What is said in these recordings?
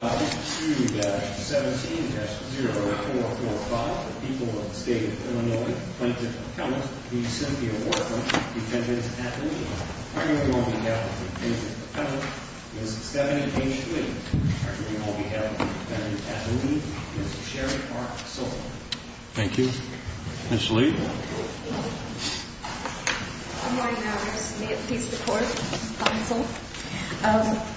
2-17-0445, the people of the state of Illinois plaintiff appellant, v. Cynthia Wortham, defendant at the lead. Attorney on behalf of the defendant appellant, Ms. Stephanie H. Lee. Attorney on behalf of the defendant at the lead, Ms. Sherry R. Sullivan. Thank you. Ms. Lee. Good morning, members. May it please the court, counsel.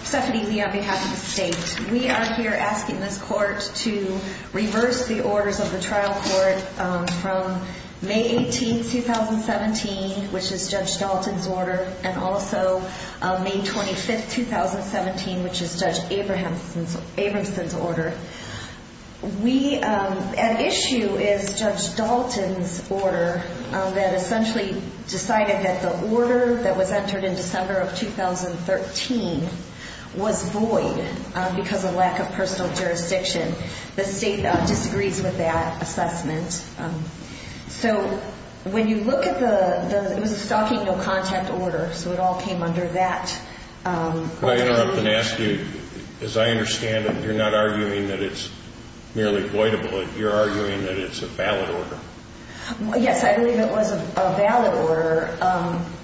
Stephanie Lee on behalf of the state. We are here asking this court to reverse the orders of the trial court from May 18, 2017, which is Judge Dalton's order, and also May 25, 2017, which is Judge Abramson's order. We at issue is Judge Dalton's order that essentially decided that the order that was entered in December of 2013 was void because of lack of personal jurisdiction. The state disagrees with that assessment. So when you look at the, it was a stalking no contact order, so it all came under that. May I interrupt and ask you, as I understand it, you're not arguing that it's merely voidable. You're arguing that it's a valid order. Yes, I believe it was a valid order.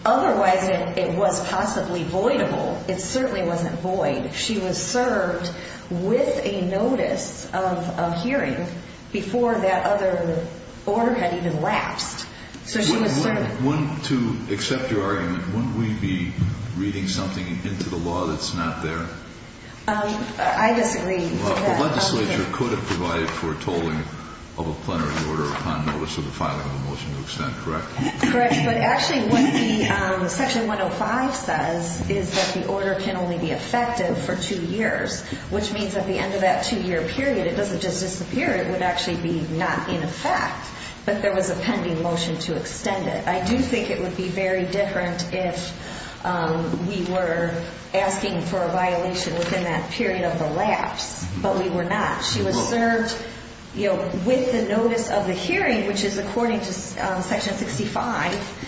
Otherwise, it was possibly voidable. It certainly wasn't void. She was served with a notice of hearing before that other order had even lapsed. To accept your argument, wouldn't we be reading something into the law that's not there? I disagree. The legislature could have provided for a tolling of a plenary order upon notice of the filing of a motion to extent, correct? Correct, but actually what the section 105 says is that the order can only be effective for two years, which means at the end of that two year period, it doesn't just disappear. It would actually be not in effect, but there was a pending motion to extend it. I do think it would be very different if we were asking for a violation within that period of the lapse, but we were not. She was served with the notice of the hearing, which is according to section 65.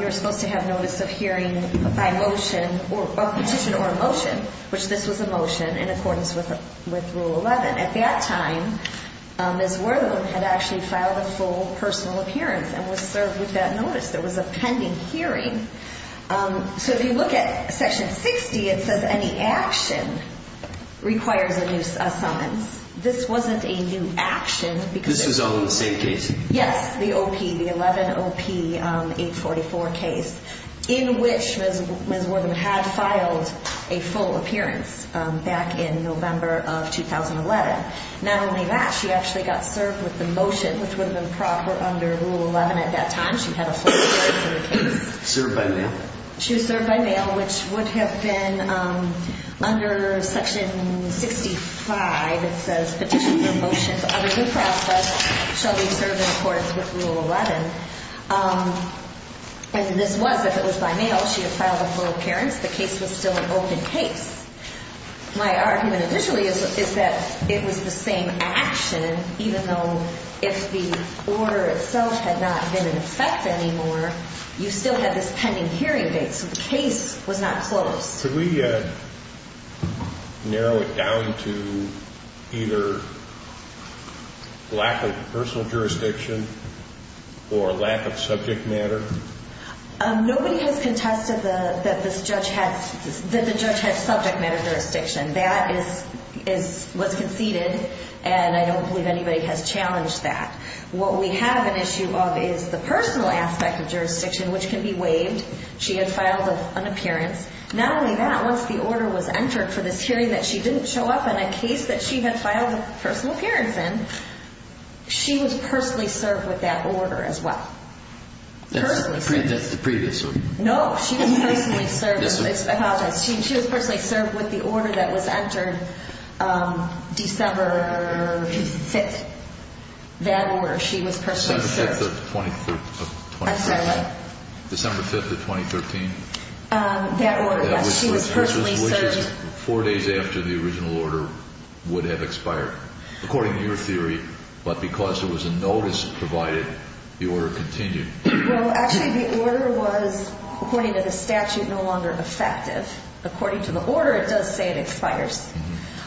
You're supposed to have notice of hearing by motion or petition or a motion, which this was a motion in accordance with rule 11. At that time, Ms. Wortham had actually filed a full personal appearance and was served with that notice. There was a pending hearing. So if you look at section 60, it says any action requires a new summons. This wasn't a new action. This was on the same case? Yes, the OP, the 11 OP 844 case in which Ms. Wortham had filed a full appearance back in November of 2011. Not only that, she actually got served with the motion, which would have been proper under rule 11 at that time. She had a full appearance in the case. Served by mail? She was served by mail, which would have been under section 65. It says petitions or motions of a new process shall be served in accordance with rule 11. And this was, if it was by mail, she had filed a full appearance. The case was still an open case. My argument initially is that it was the same action, even though if the order itself had not been in effect anymore, you still had this pending hearing date. So the case was not closed. Could we narrow it down to either lack of personal jurisdiction or lack of subject matter? Nobody has contested that the judge had subject matter jurisdiction. That was conceded, and I don't believe anybody has challenged that. What we have an issue of is the personal aspect of jurisdiction, which can be waived. She had filed an appearance. Not only that, once the order was entered for this hearing that she didn't show up in a case that she had filed a personal appearance in, she was personally served with that order as well. That's the previous one. No, she was personally served. I apologize. She was personally served with the order that was entered December 5th. That order, she was personally served. December 5th of 2013. I'm sorry, what? December 5th of 2013. That order, yes. She was personally served. Which is four days after the original order would have expired. According to your theory, but because there was a notice provided, the order continued. Well, actually, the order was, according to the statute, no longer effective. According to the order, it does say it expires.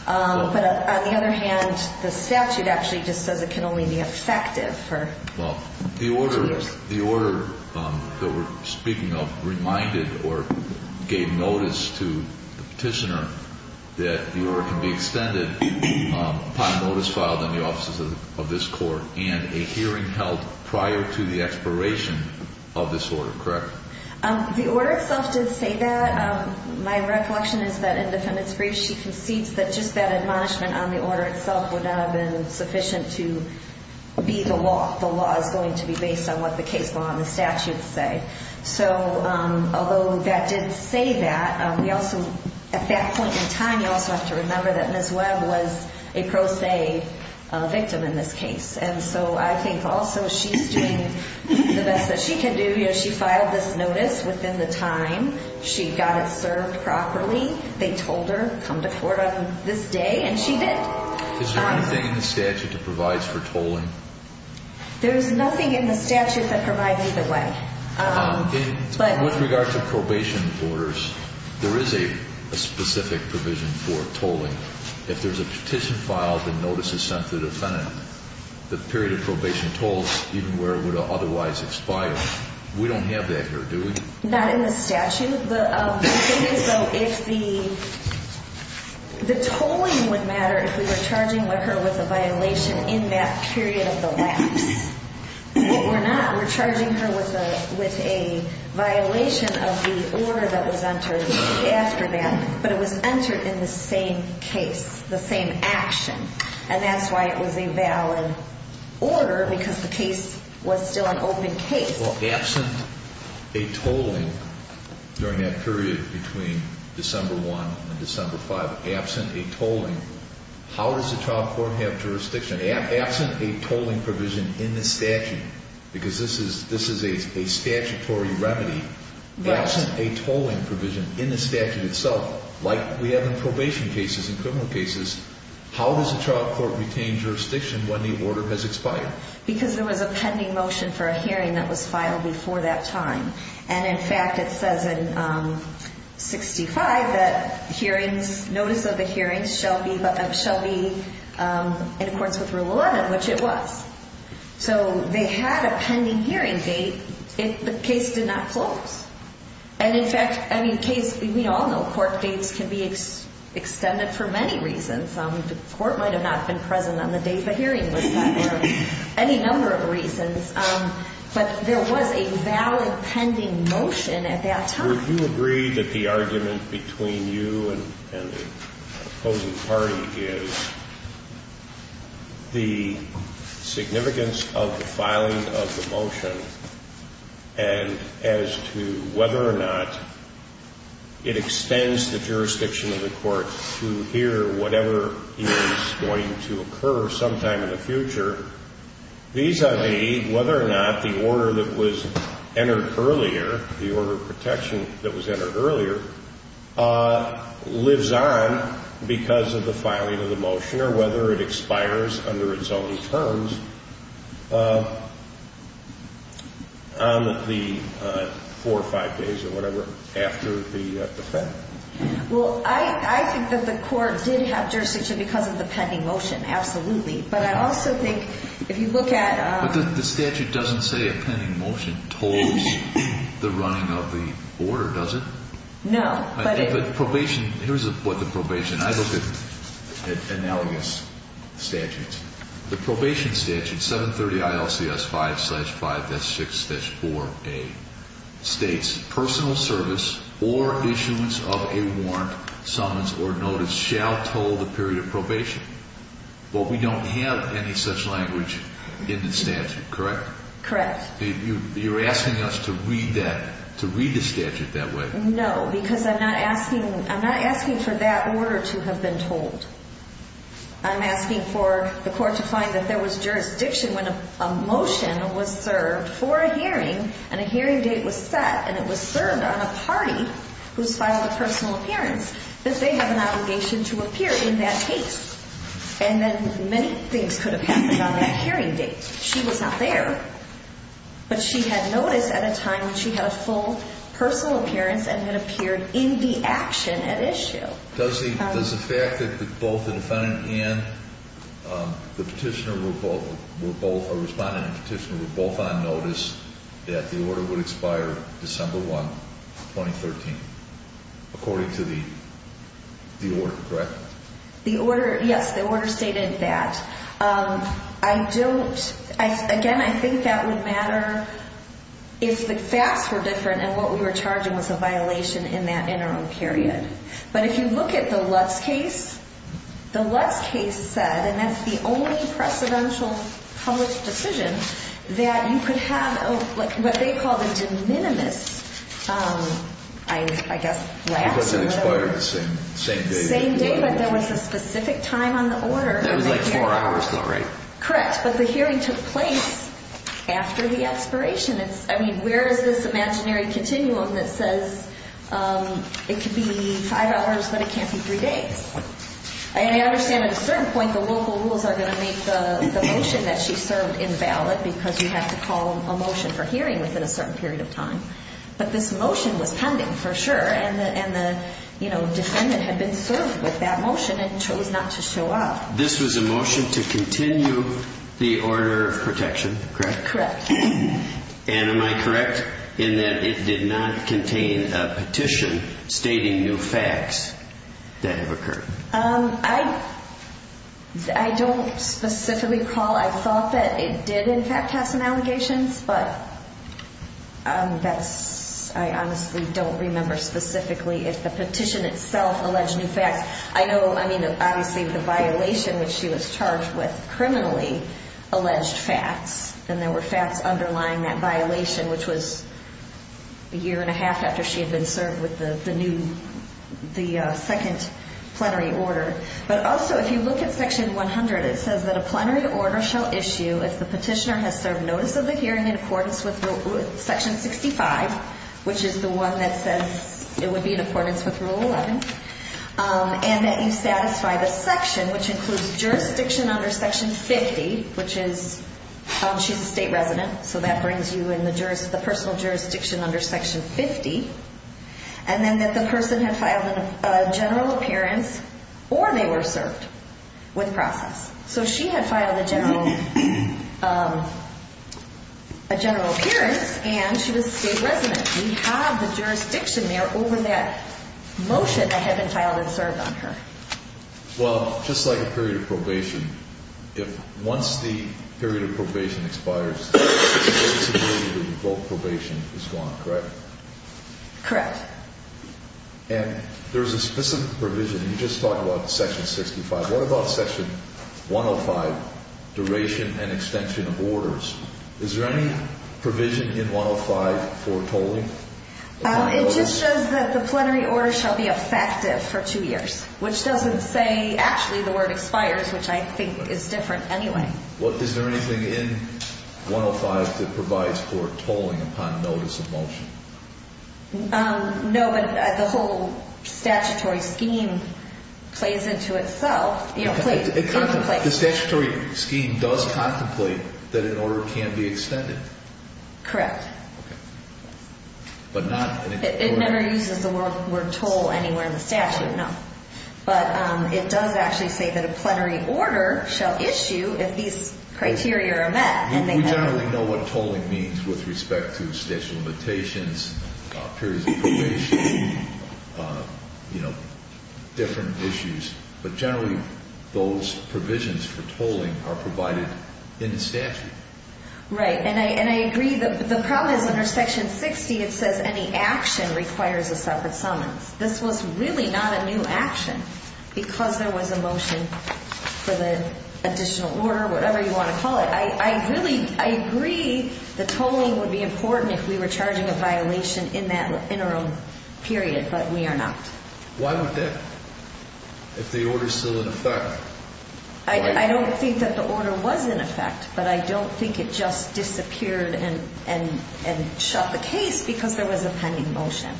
But on the other hand, the statute actually just says it can only be effective for two years. Well, the order that we're speaking of reminded or gave notice to the petitioner that the order can be extended upon notice filed on the offices of this court and a hearing held prior to the expiration of this order, correct? The order itself did say that. My recollection is that in defendant's brief, she concedes that just that admonishment on the order itself would not have been sufficient to be the law. The law is going to be based on what the case law and the statute say. So, although that did say that, we also, at that point in time, you also have to remember that Ms. Webb was a pro se victim in this case. And so I think also she's doing the best that she can do. She filed this notice within the time she got it served properly. They told her, come to court on this day, and she did. Is there anything in the statute that provides for tolling? There's nothing in the statute that provides either way. With regard to probation orders, there is a specific provision for tolling. If there's a petition filed, the notice is sent to the defendant. The period of probation tolls, even where it would have otherwise expired, we don't have that here, do we? Not in the statute. The thing is, though, if the tolling would matter if we were charging her with a violation in that period of the lapse. We're not. We're charging her with a violation of the order that was entered after that, but it was entered in the same case, the same action. And that's why it was a valid order, because the case was still an open case. Well, absent a tolling during that period between December 1 and December 5, absent a tolling, how does the child court have jurisdiction? Absent a tolling provision in the statute, because this is a statutory remedy, absent a tolling provision in the statute itself, like we have in probation cases and criminal cases, how does the child court retain jurisdiction when the order has expired? Because there was a pending motion for a hearing that was filed before that time. And, in fact, it says in 65 that hearings, notice of the hearings shall be in accordance with Rule 11, which it was. So they had a pending hearing date if the case did not close. And, in fact, I mean, case, we all know court dates can be extended for many reasons. The court might have not been present on the date the hearing was filed or any number of reasons. But there was a valid pending motion at that time. Would you agree that the argument between you and the opposing party is the significance of the filing of the motion, and as to whether or not it extends the jurisdiction of the court to hear whatever is going to occur sometime in the future, vis-a-vis whether or not the order that was entered earlier, the order of protection that was entered earlier, lives on because of the filing of the motion or whether it expires under its own terms on the four or five days or whatever after the fact? Well, I think that the court did have jurisdiction because of the pending motion, absolutely. But I also think if you look at – But the statute doesn't say a pending motion tolls the running of the order, does it? No. But probation – here's what the probation – I look at analogous statutes. The probation statute, 730 ILCS 5-5-6-4A, states personal service or issuance of a warrant, summons, or notice shall toll the period of probation. But we don't have any such language in the statute, correct? Correct. You're asking us to read that – to read the statute that way? No, because I'm not asking – I'm not asking for that order to have been told. I'm asking for the court to find that there was jurisdiction when a motion was served for a hearing and a hearing date was set, and it was served on a party who's filed a personal appearance, that they have an obligation to appear in that case. And then many things could have happened on that hearing date. She was not there, but she had notice at a time when she had a full personal appearance and had appeared in the action at issue. Does the fact that both the defendant and the petitioner were both – or respondent and petitioner were both on notice that the order would expire December 1, 2013, according to the order, correct? The order – yes, the order stated that. I don't – again, I think that would matter if the facts were different and what we were charging was a violation in that interim period. But if you look at the Lutz case, the Lutz case said – and that's the only precedential published decision – that you could have what they called a de minimis, I guess, lapse. Because it expired the same day. Same day, but there was a specific time on the order. That was like four hours, though, right? Correct, but the hearing took place after the expiration. I mean, where is this imaginary continuum that says it could be five hours, but it can't be three days? I understand at a certain point the local rules are going to make the motion that she served invalid because you have to call a motion for hearing within a certain period of time. But this motion was pending for sure, and the defendant had been served with that motion and chose not to show up. This was a motion to continue the order of protection, correct? Correct. And am I correct in that it did not contain a petition stating new facts that have occurred? I don't specifically recall. I thought that it did, in fact, have some allegations, but I honestly don't remember specifically if the petition itself alleged new facts. I know, I mean, obviously the violation, which she was charged with, criminally alleged facts, and there were facts underlying that violation, which was a year and a half after she had been served with the second plenary order. But also, if you look at Section 100, it says that a plenary order shall issue if the petitioner has served notice of the hearing in accordance with Section 65, which is the one that says it would be in accordance with Rule 11, and that you satisfy the section, which includes jurisdiction under Section 50, which is she's a state resident, so that brings you in the personal jurisdiction under Section 50, and then that the person had filed a general appearance or they were served with process. So she had filed a general appearance, and she was a state resident. We have the jurisdiction there over that motion that had been filed and served on her. Well, just like a period of probation, if once the period of probation expires, it's very similar to the default probation is gone, correct? Correct. And there's a specific provision you just talked about in Section 65. What about Section 105, duration and extension of orders? Is there any provision in 105 for tolling? It just says that the plenary order shall be effective for two years, which doesn't say actually the word expires, which I think is different anyway. Is there anything in 105 that provides for tolling upon notice of motion? No, but the whole statutory scheme plays into itself. The statutory scheme does contemplate that an order can be extended. Correct. Okay. It never uses the word toll anywhere in the statute, no. But it does actually say that a plenary order shall issue if these criteria are met. We generally know what tolling means with respect to statute of limitations, periods of probation, different issues. But generally, those provisions for tolling are provided in the statute. Right. And I agree. The problem is under Section 60, it says any action requires a separate summons. This was really not a new action because there was a motion for the additional order, whatever you want to call it. I agree the tolling would be important if we were charging a violation in that interim period, but we are not. Why would that, if the order is still in effect? I don't think that the order was in effect, but I don't think it just disappeared and shut the case because there was a pending motion.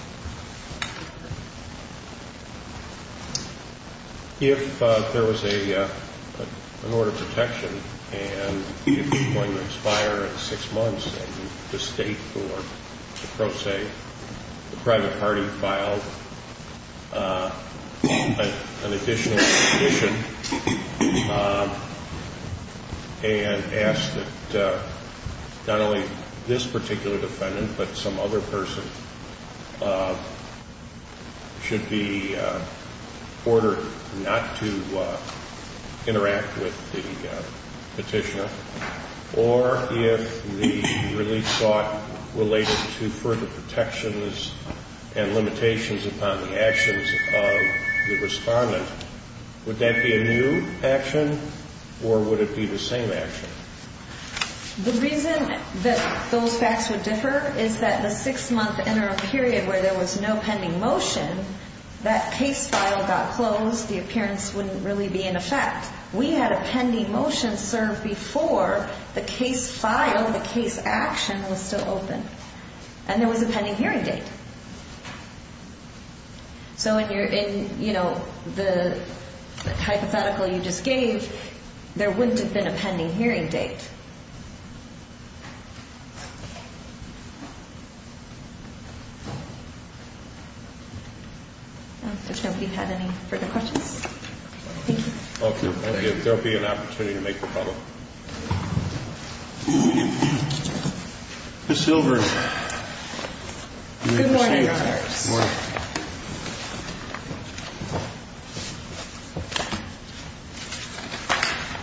If there was an order of protection and it was going to expire in six months, and the state or the pro se, the private party filed an additional petition and asked that not only this particular defendant, but some other person should be ordered not to interact with the petitioner, or if the release sought related to further protections and limitations upon the actions of the respondent, would that be a new action or would it be the same action? The reason that those facts would differ is that the six-month interim period where there was no pending motion, that case file got closed. The appearance wouldn't really be in effect. We had a pending motion served before the case file, the case action was still open. And there was a pending hearing date. So when you're in, you know, the hypothetical you just gave, there wouldn't have been a pending hearing date. Has nobody had any further questions? Thank you. Okay. Thank you. There will be an opportunity to make the follow-up. Ms. Silver. Good morning, Your Honors. Good morning.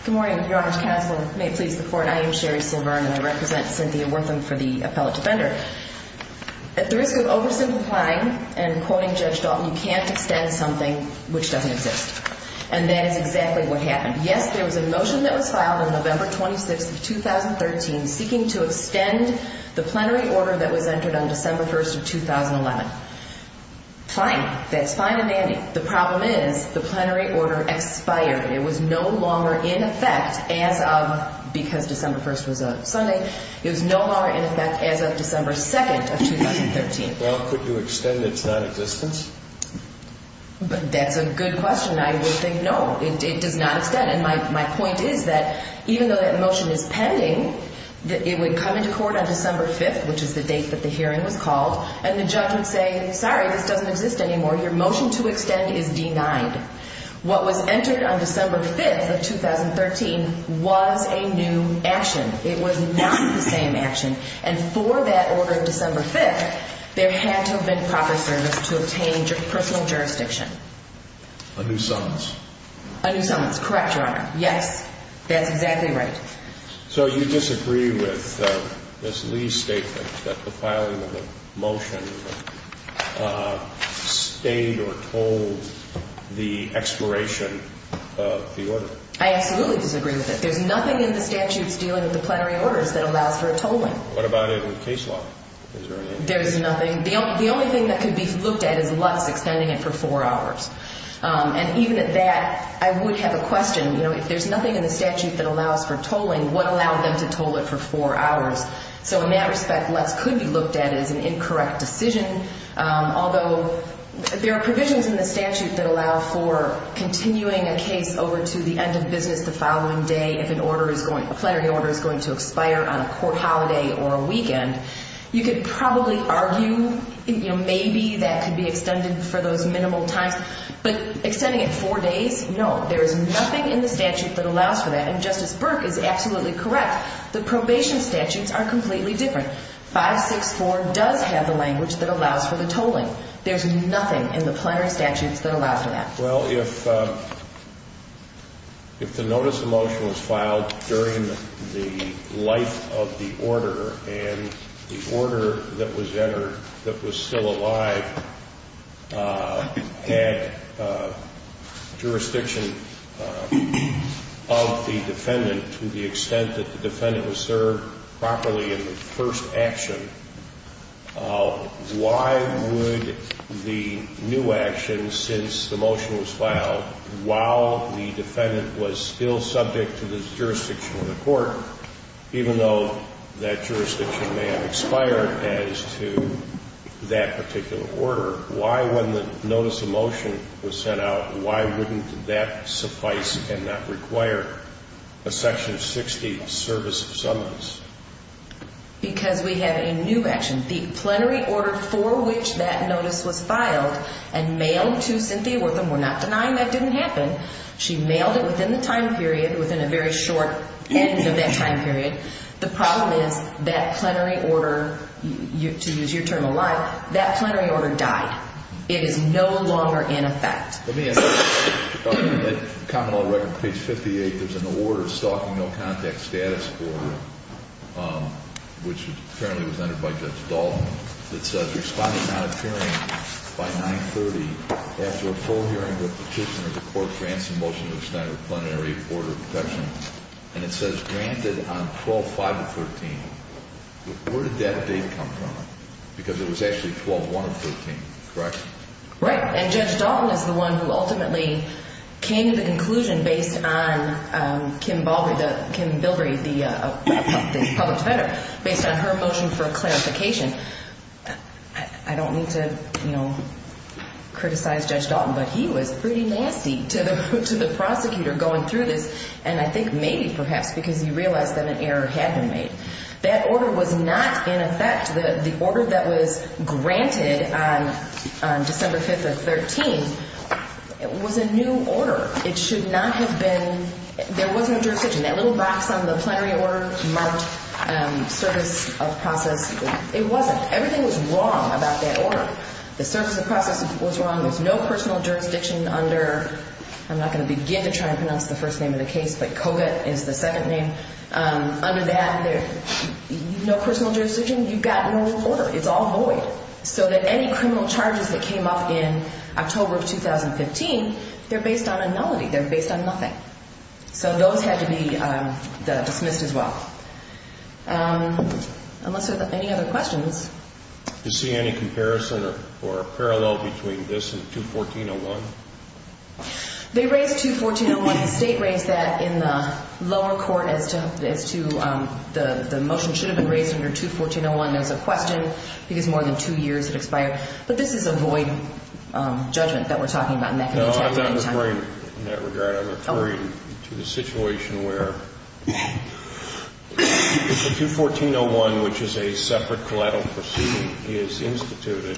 Good morning, Your Honors. Counsel may please report. I am Sherri Silver, and I represent Cynthia Wortham for the appellate defender. At the risk of oversimplifying and quoting Judge Dalton, you can't extend something which doesn't exist. And that is exactly what happened. Yes, there was a motion that was filed on November 26th of 2013, seeking to extend the plenary order that was entered on December 1st of 2011. Fine. That's fine and dandy. The problem is the plenary order expired. It was no longer in effect as of, because December 1st was a Sunday, it was no longer in effect as of December 2nd of 2013. Well, could you extend its non-existence? That's a good question. I would think no. It does not extend. And my point is that even though that motion is pending, it would come into court on December 5th, which is the date that the hearing was called, and the judge would say, sorry, this doesn't exist anymore. Your motion to extend is denied. What was entered on December 5th of 2013 was a new action. It was not the same action. And for that order of December 5th, there had to have been proper service to obtain personal jurisdiction. A new summons. A new summons. Correct, Your Honor. Yes. That's exactly right. So you disagree with Ms. Lee's statement that the filing of the motion stained or tolled the expiration of the order? I absolutely disagree with it. There's nothing in the statutes dealing with the plenary orders that allows for a tolling. What about in case law? Is there anything? There's nothing. The only thing that could be looked at is Lutz extending it for four hours. And even at that, I would have a question. If there's nothing in the statute that allows for tolling, what allowed them to toll it for four hours? So in that respect, Lutz could be looked at as an incorrect decision, although there are provisions in the statute that allow for continuing a case over to the end of business the following day if a plenary order is going to expire on a court holiday or a weekend. You could probably argue, you know, maybe that could be extended for those minimal times. But extending it four days? No. There is nothing in the statute that allows for that. And Justice Burke is absolutely correct. The probation statutes are completely different. 564 does have the language that allows for the tolling. There's nothing in the plenary statutes that allows for that. Well, if the notice of motion was filed during the life of the order and the order that was entered that was still alive had jurisdiction of the defendant to the extent that the defendant was served properly in the first action, why would the new action, since the motion was filed, while the defendant was still subject to the jurisdiction of the court, even though that jurisdiction may have expired as to that particular order, why, when the notice of motion was sent out, why wouldn't that suffice and not require a Section 60 service of summons? Because we have a new action. The plenary order for which that notice was filed and mailed to Cynthia Wortham, we're not denying that didn't happen. She mailed it within the time period, within a very short end of that time period. The problem is that plenary order, to use your term of life, that plenary order died. It is no longer in effect. Let me ask you, on the common law record, page 58, there's an order, Stalking No Contact Status Order, which apparently was entered by Judge Dalton, that says responding not appearing by 930 after a full hearing with petitioner, the court grants a motion to extend a plenary order of protection, and it says granted on 12-5-13. Where did that date come from? Because it was actually 12-1-13, correct? Right, and Judge Dalton is the one who ultimately came to the conclusion, based on Kim Bilbrey, the public defender, based on her motion for clarification. I don't mean to criticize Judge Dalton, but he was pretty nasty to the prosecutor going through this, and I think maybe perhaps because he realized that an error had been made. That order was not in effect. The order that was granted on December 5-13 was a new order. It should not have been. There was no jurisdiction. That little box on the plenary order marked service of process, it wasn't. Everything was wrong about that order. The service of process was wrong. There's no personal jurisdiction under, I'm not going to begin to try and pronounce the first name of the case, but Koga is the second name. Under that, no personal jurisdiction, you've got no order. It's all void. So that any criminal charges that came up in October of 2015, they're based on a nullity. They're based on nothing. So those had to be dismissed as well. Unless there are any other questions. Do you see any comparison or parallel between this and 2-14-01? They raised 2-14-01. The state raised that in the lower court as to the motion should have been raised under 2-14-01 as a question, because more than two years had expired. But this is a void judgment that we're talking about in that context. No, I'm not referring in that regard. I'm referring to the situation where 2-14-01, which is a separate collateral proceeding, is instituted.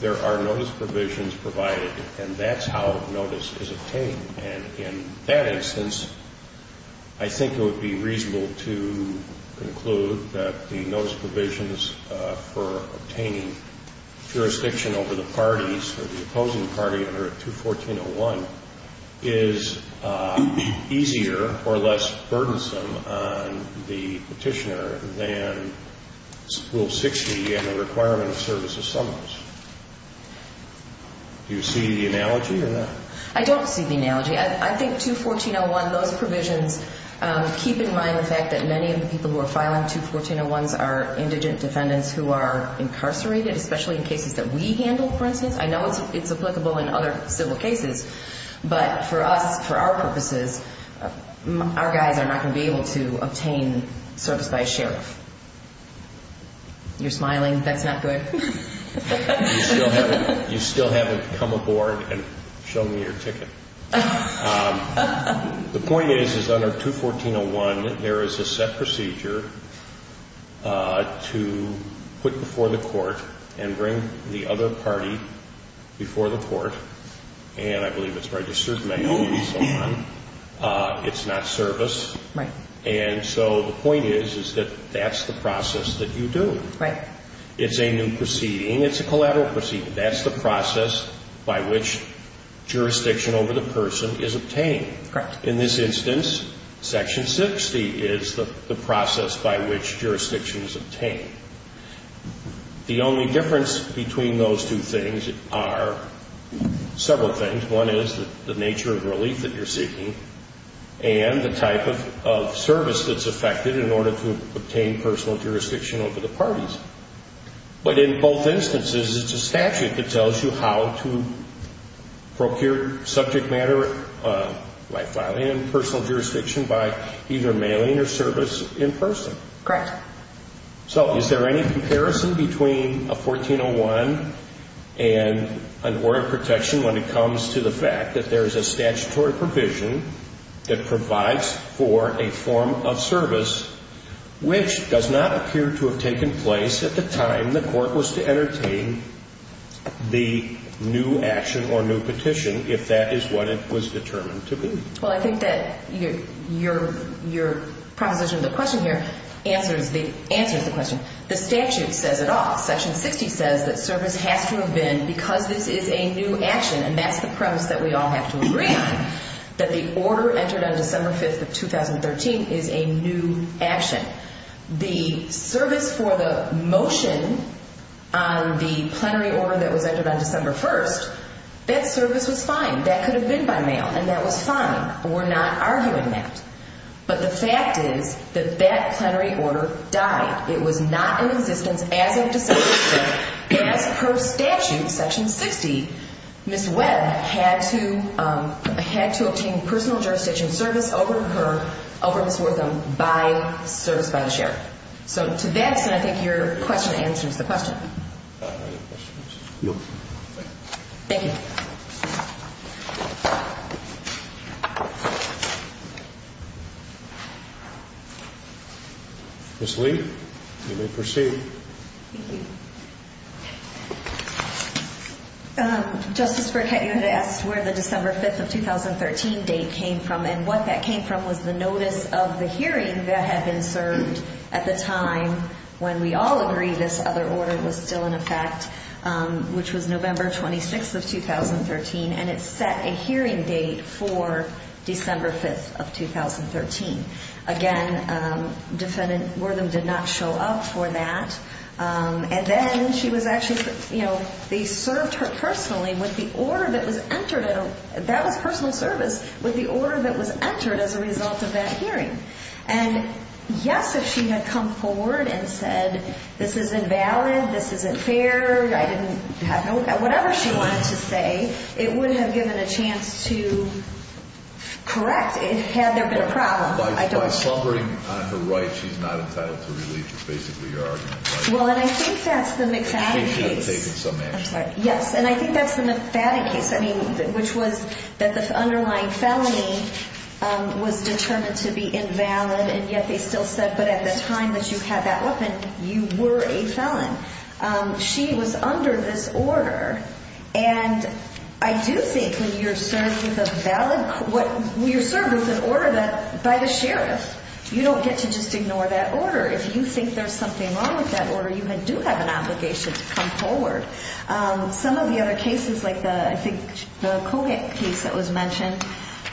There are notice provisions provided, and that's how notice is obtained. And in that instance, I think it would be reasonable to conclude that the notice provisions for obtaining jurisdiction over the parties or the opposing party under 2-14-01 is easier or less burdensome on the Petitioner than Rule 60 and the requirement of service of summons. Do you see the analogy or not? I don't see the analogy. I think 2-14-01, those provisions keep in mind the fact that many of the people who are filing 2-14-01s are indigent defendants who are incarcerated, especially in cases that we handle, for instance. I know it's applicable in other civil cases, but for us, for our purposes, our guys are not going to be able to obtain service by a sheriff. You're smiling. That's not good. You still haven't come aboard and shown me your ticket. The point is, is under 2-14-01, there is a set procedure to put before the court and bring the other party before the court, and I believe it's registered manual and so on. It's not service. Right. And so the point is, is that that's the process that you do. Right. It's a new proceeding. It's a collateral proceeding. That's the process by which jurisdiction over the person is obtained. Correct. In this instance, Section 60 is the process by which jurisdiction is obtained. The only difference between those two things are several things. One is the nature of relief that you're seeking and the type of service that's affected in order to obtain personal jurisdiction over the parties. But in both instances, it's a statute that tells you how to procure subject matter by filing in personal jurisdiction by either mailing or service in person. Correct. So is there any comparison between a 14-01 and an order of protection when it comes to the fact that there is a statutory provision that provides for a form of service which does not appear to have taken place at the time the court was to entertain the new action or new petition if that is what it was determined to be? Well, I think that your proposition to the question here answers the question. The statute says it all. Section 60 says that service has to have been because this is a new action, and that's the premise that we all have to agree on, that the order entered on December 5th of 2013 is a new action. The service for the motion on the plenary order that was entered on December 1st, that service was fine. That could have been by mail, and that was fine. We're not arguing that. But the fact is that that plenary order died. It was not in existence as of December 6th. As per statute, Section 60, Ms. Webb had to obtain personal jurisdiction service over Ms. Wortham by service by the sheriff. So to that extent, I think your question answers the question. Any other questions? No. Thank you. Ms. Lee, you may proceed. Thank you. Justice Burkett, you had asked where the December 5th of 2013 date came from, and what that came from was the notice of the hearing that had been served at the time when we all agreed this other order was still in effect, which was November 26th of 2013. And it set a hearing date for December 5th of 2013. Again, Defendant Wortham did not show up for that. And then she was actually, you know, they served her personally with the order that was entered. That was personal service with the order that was entered as a result of that hearing. And, yes, if she had come forward and said, this is invalid, this isn't fair, whatever she wanted to say, it wouldn't have given a chance to correct it had there been a problem. By slumbering on her right, she's not entitled to release. That's basically your argument. Well, and I think that's the McFadden case. I'm sorry. Yes, and I think that's the McFadden case, I mean, which was that the underlying felony was determined to be invalid, and yet they still said, but at the time that you had that weapon, you were a felon. She was under this order. And I do think when you're served with an order by the sheriff, you don't get to just ignore that order. If you think there's something wrong with that order, you do have an obligation to come forward. Some of the other cases, like I think the Kohik case that was mentioned,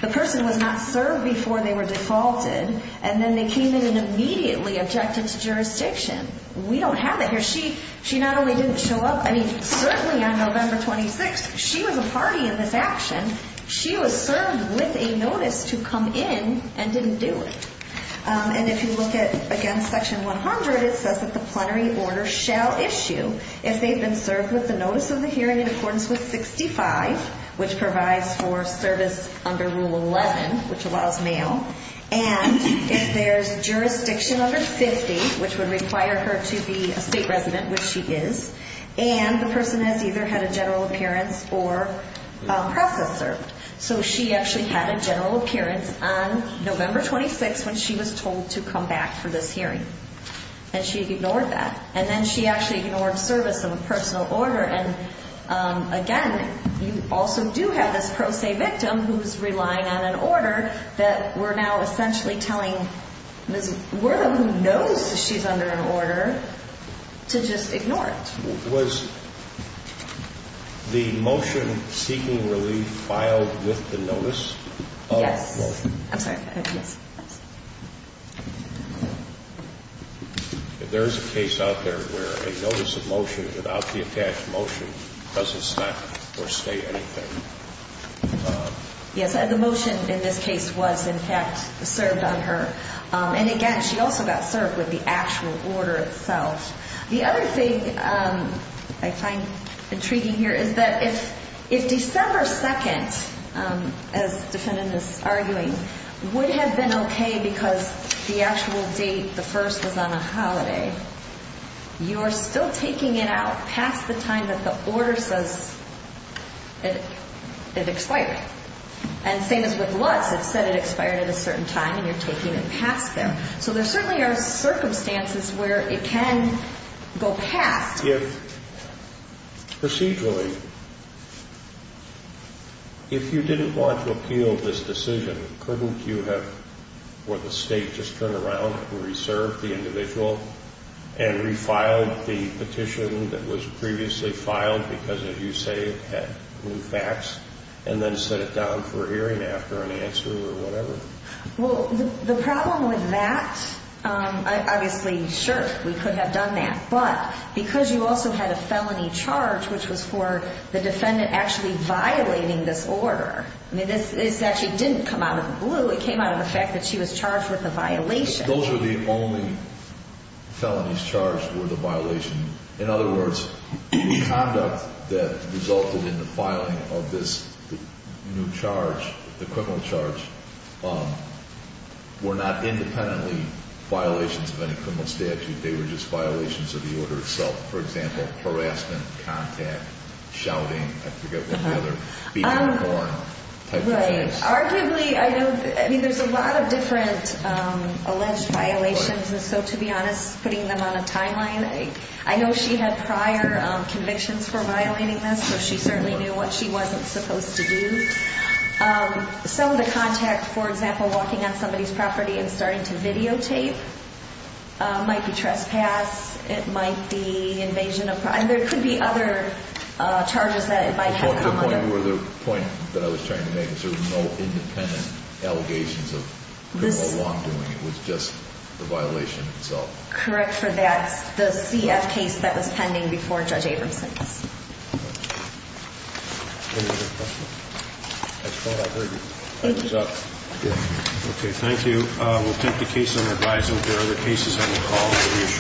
the person was not served before they were defaulted, and then they came in and immediately objected to jurisdiction. We don't have that here. She not only didn't show up, I mean, certainly on November 26th, she was a party in this action. She was served with a notice to come in and didn't do it. And if you look at, again, Section 100, it says that the plenary order shall issue if they've been served with the notice of the hearing in accordance with 65, which provides for service under Rule 11, which allows mail, and if there's jurisdiction under 50, which would require her to be a state resident, which she is, and the person has either had a general appearance or process served. So she actually had a general appearance on November 26th when she was told to come back for this hearing, and she ignored that. And then she actually ignored service of a personal order. And, again, you also do have this pro se victim who's relying on an order that we're now essentially telling Ms. Wortham, who knows she's under an order, to just ignore it. Was the motion seeking relief filed with the notice of the motion? Yes. I'm sorry. There is a case out there where a notice of motion without the attached motion doesn't stop or say anything. Yes, and the motion in this case was, in fact, served on her. And, again, she also got served with the actual order itself. The other thing I find intriguing here is that if December 2nd, as defended in this arguing, would have been okay because the actual date, the first, was on a holiday, you are still taking it out past the time that the order says it expired. And same as with Lutz, it said it expired at a certain time, and you're taking it past there. So there certainly are circumstances where it can go past. Procedurally, if you didn't want to appeal this decision, couldn't you have, for the State, just turned around and reserved the individual and refiled the petition that was previously filed because, as you say, it had new facts and then set it down for hearing after an answer or whatever? Well, the problem with that, obviously, sure, we could have done that. But because you also had a felony charge, which was for the defendant actually violating this order, I mean, this actually didn't come out of the blue. It came out of the fact that she was charged with a violation. Those were the only felonies charged were the violation. In other words, the conduct that resulted in the filing of this new charge, the criminal charge, were not independently violations of any criminal statute. They were just violations of the order itself. For example, harassment, contact, shouting, I forget what the other, beating the horn type of things. Right. Arguably, I mean, there's a lot of different alleged violations, and so to be honest, putting them on a timeline, I know she had prior convictions for violating this, so she certainly knew what she wasn't supposed to do. Some of the contact, for example, walking on somebody's property and starting to videotape, might be trespass. It might be invasion of privacy. There could be other charges that it might have. The point that I was trying to make is there were no independent allegations of criminal wrongdoing. It was just the violation itself. Correct for that. The CF case that was pending before Judge Abramson's. Any other questions? I thought I heard you. Thank you. Okay, thank you. We'll take the case under advisement. There are other cases on the call.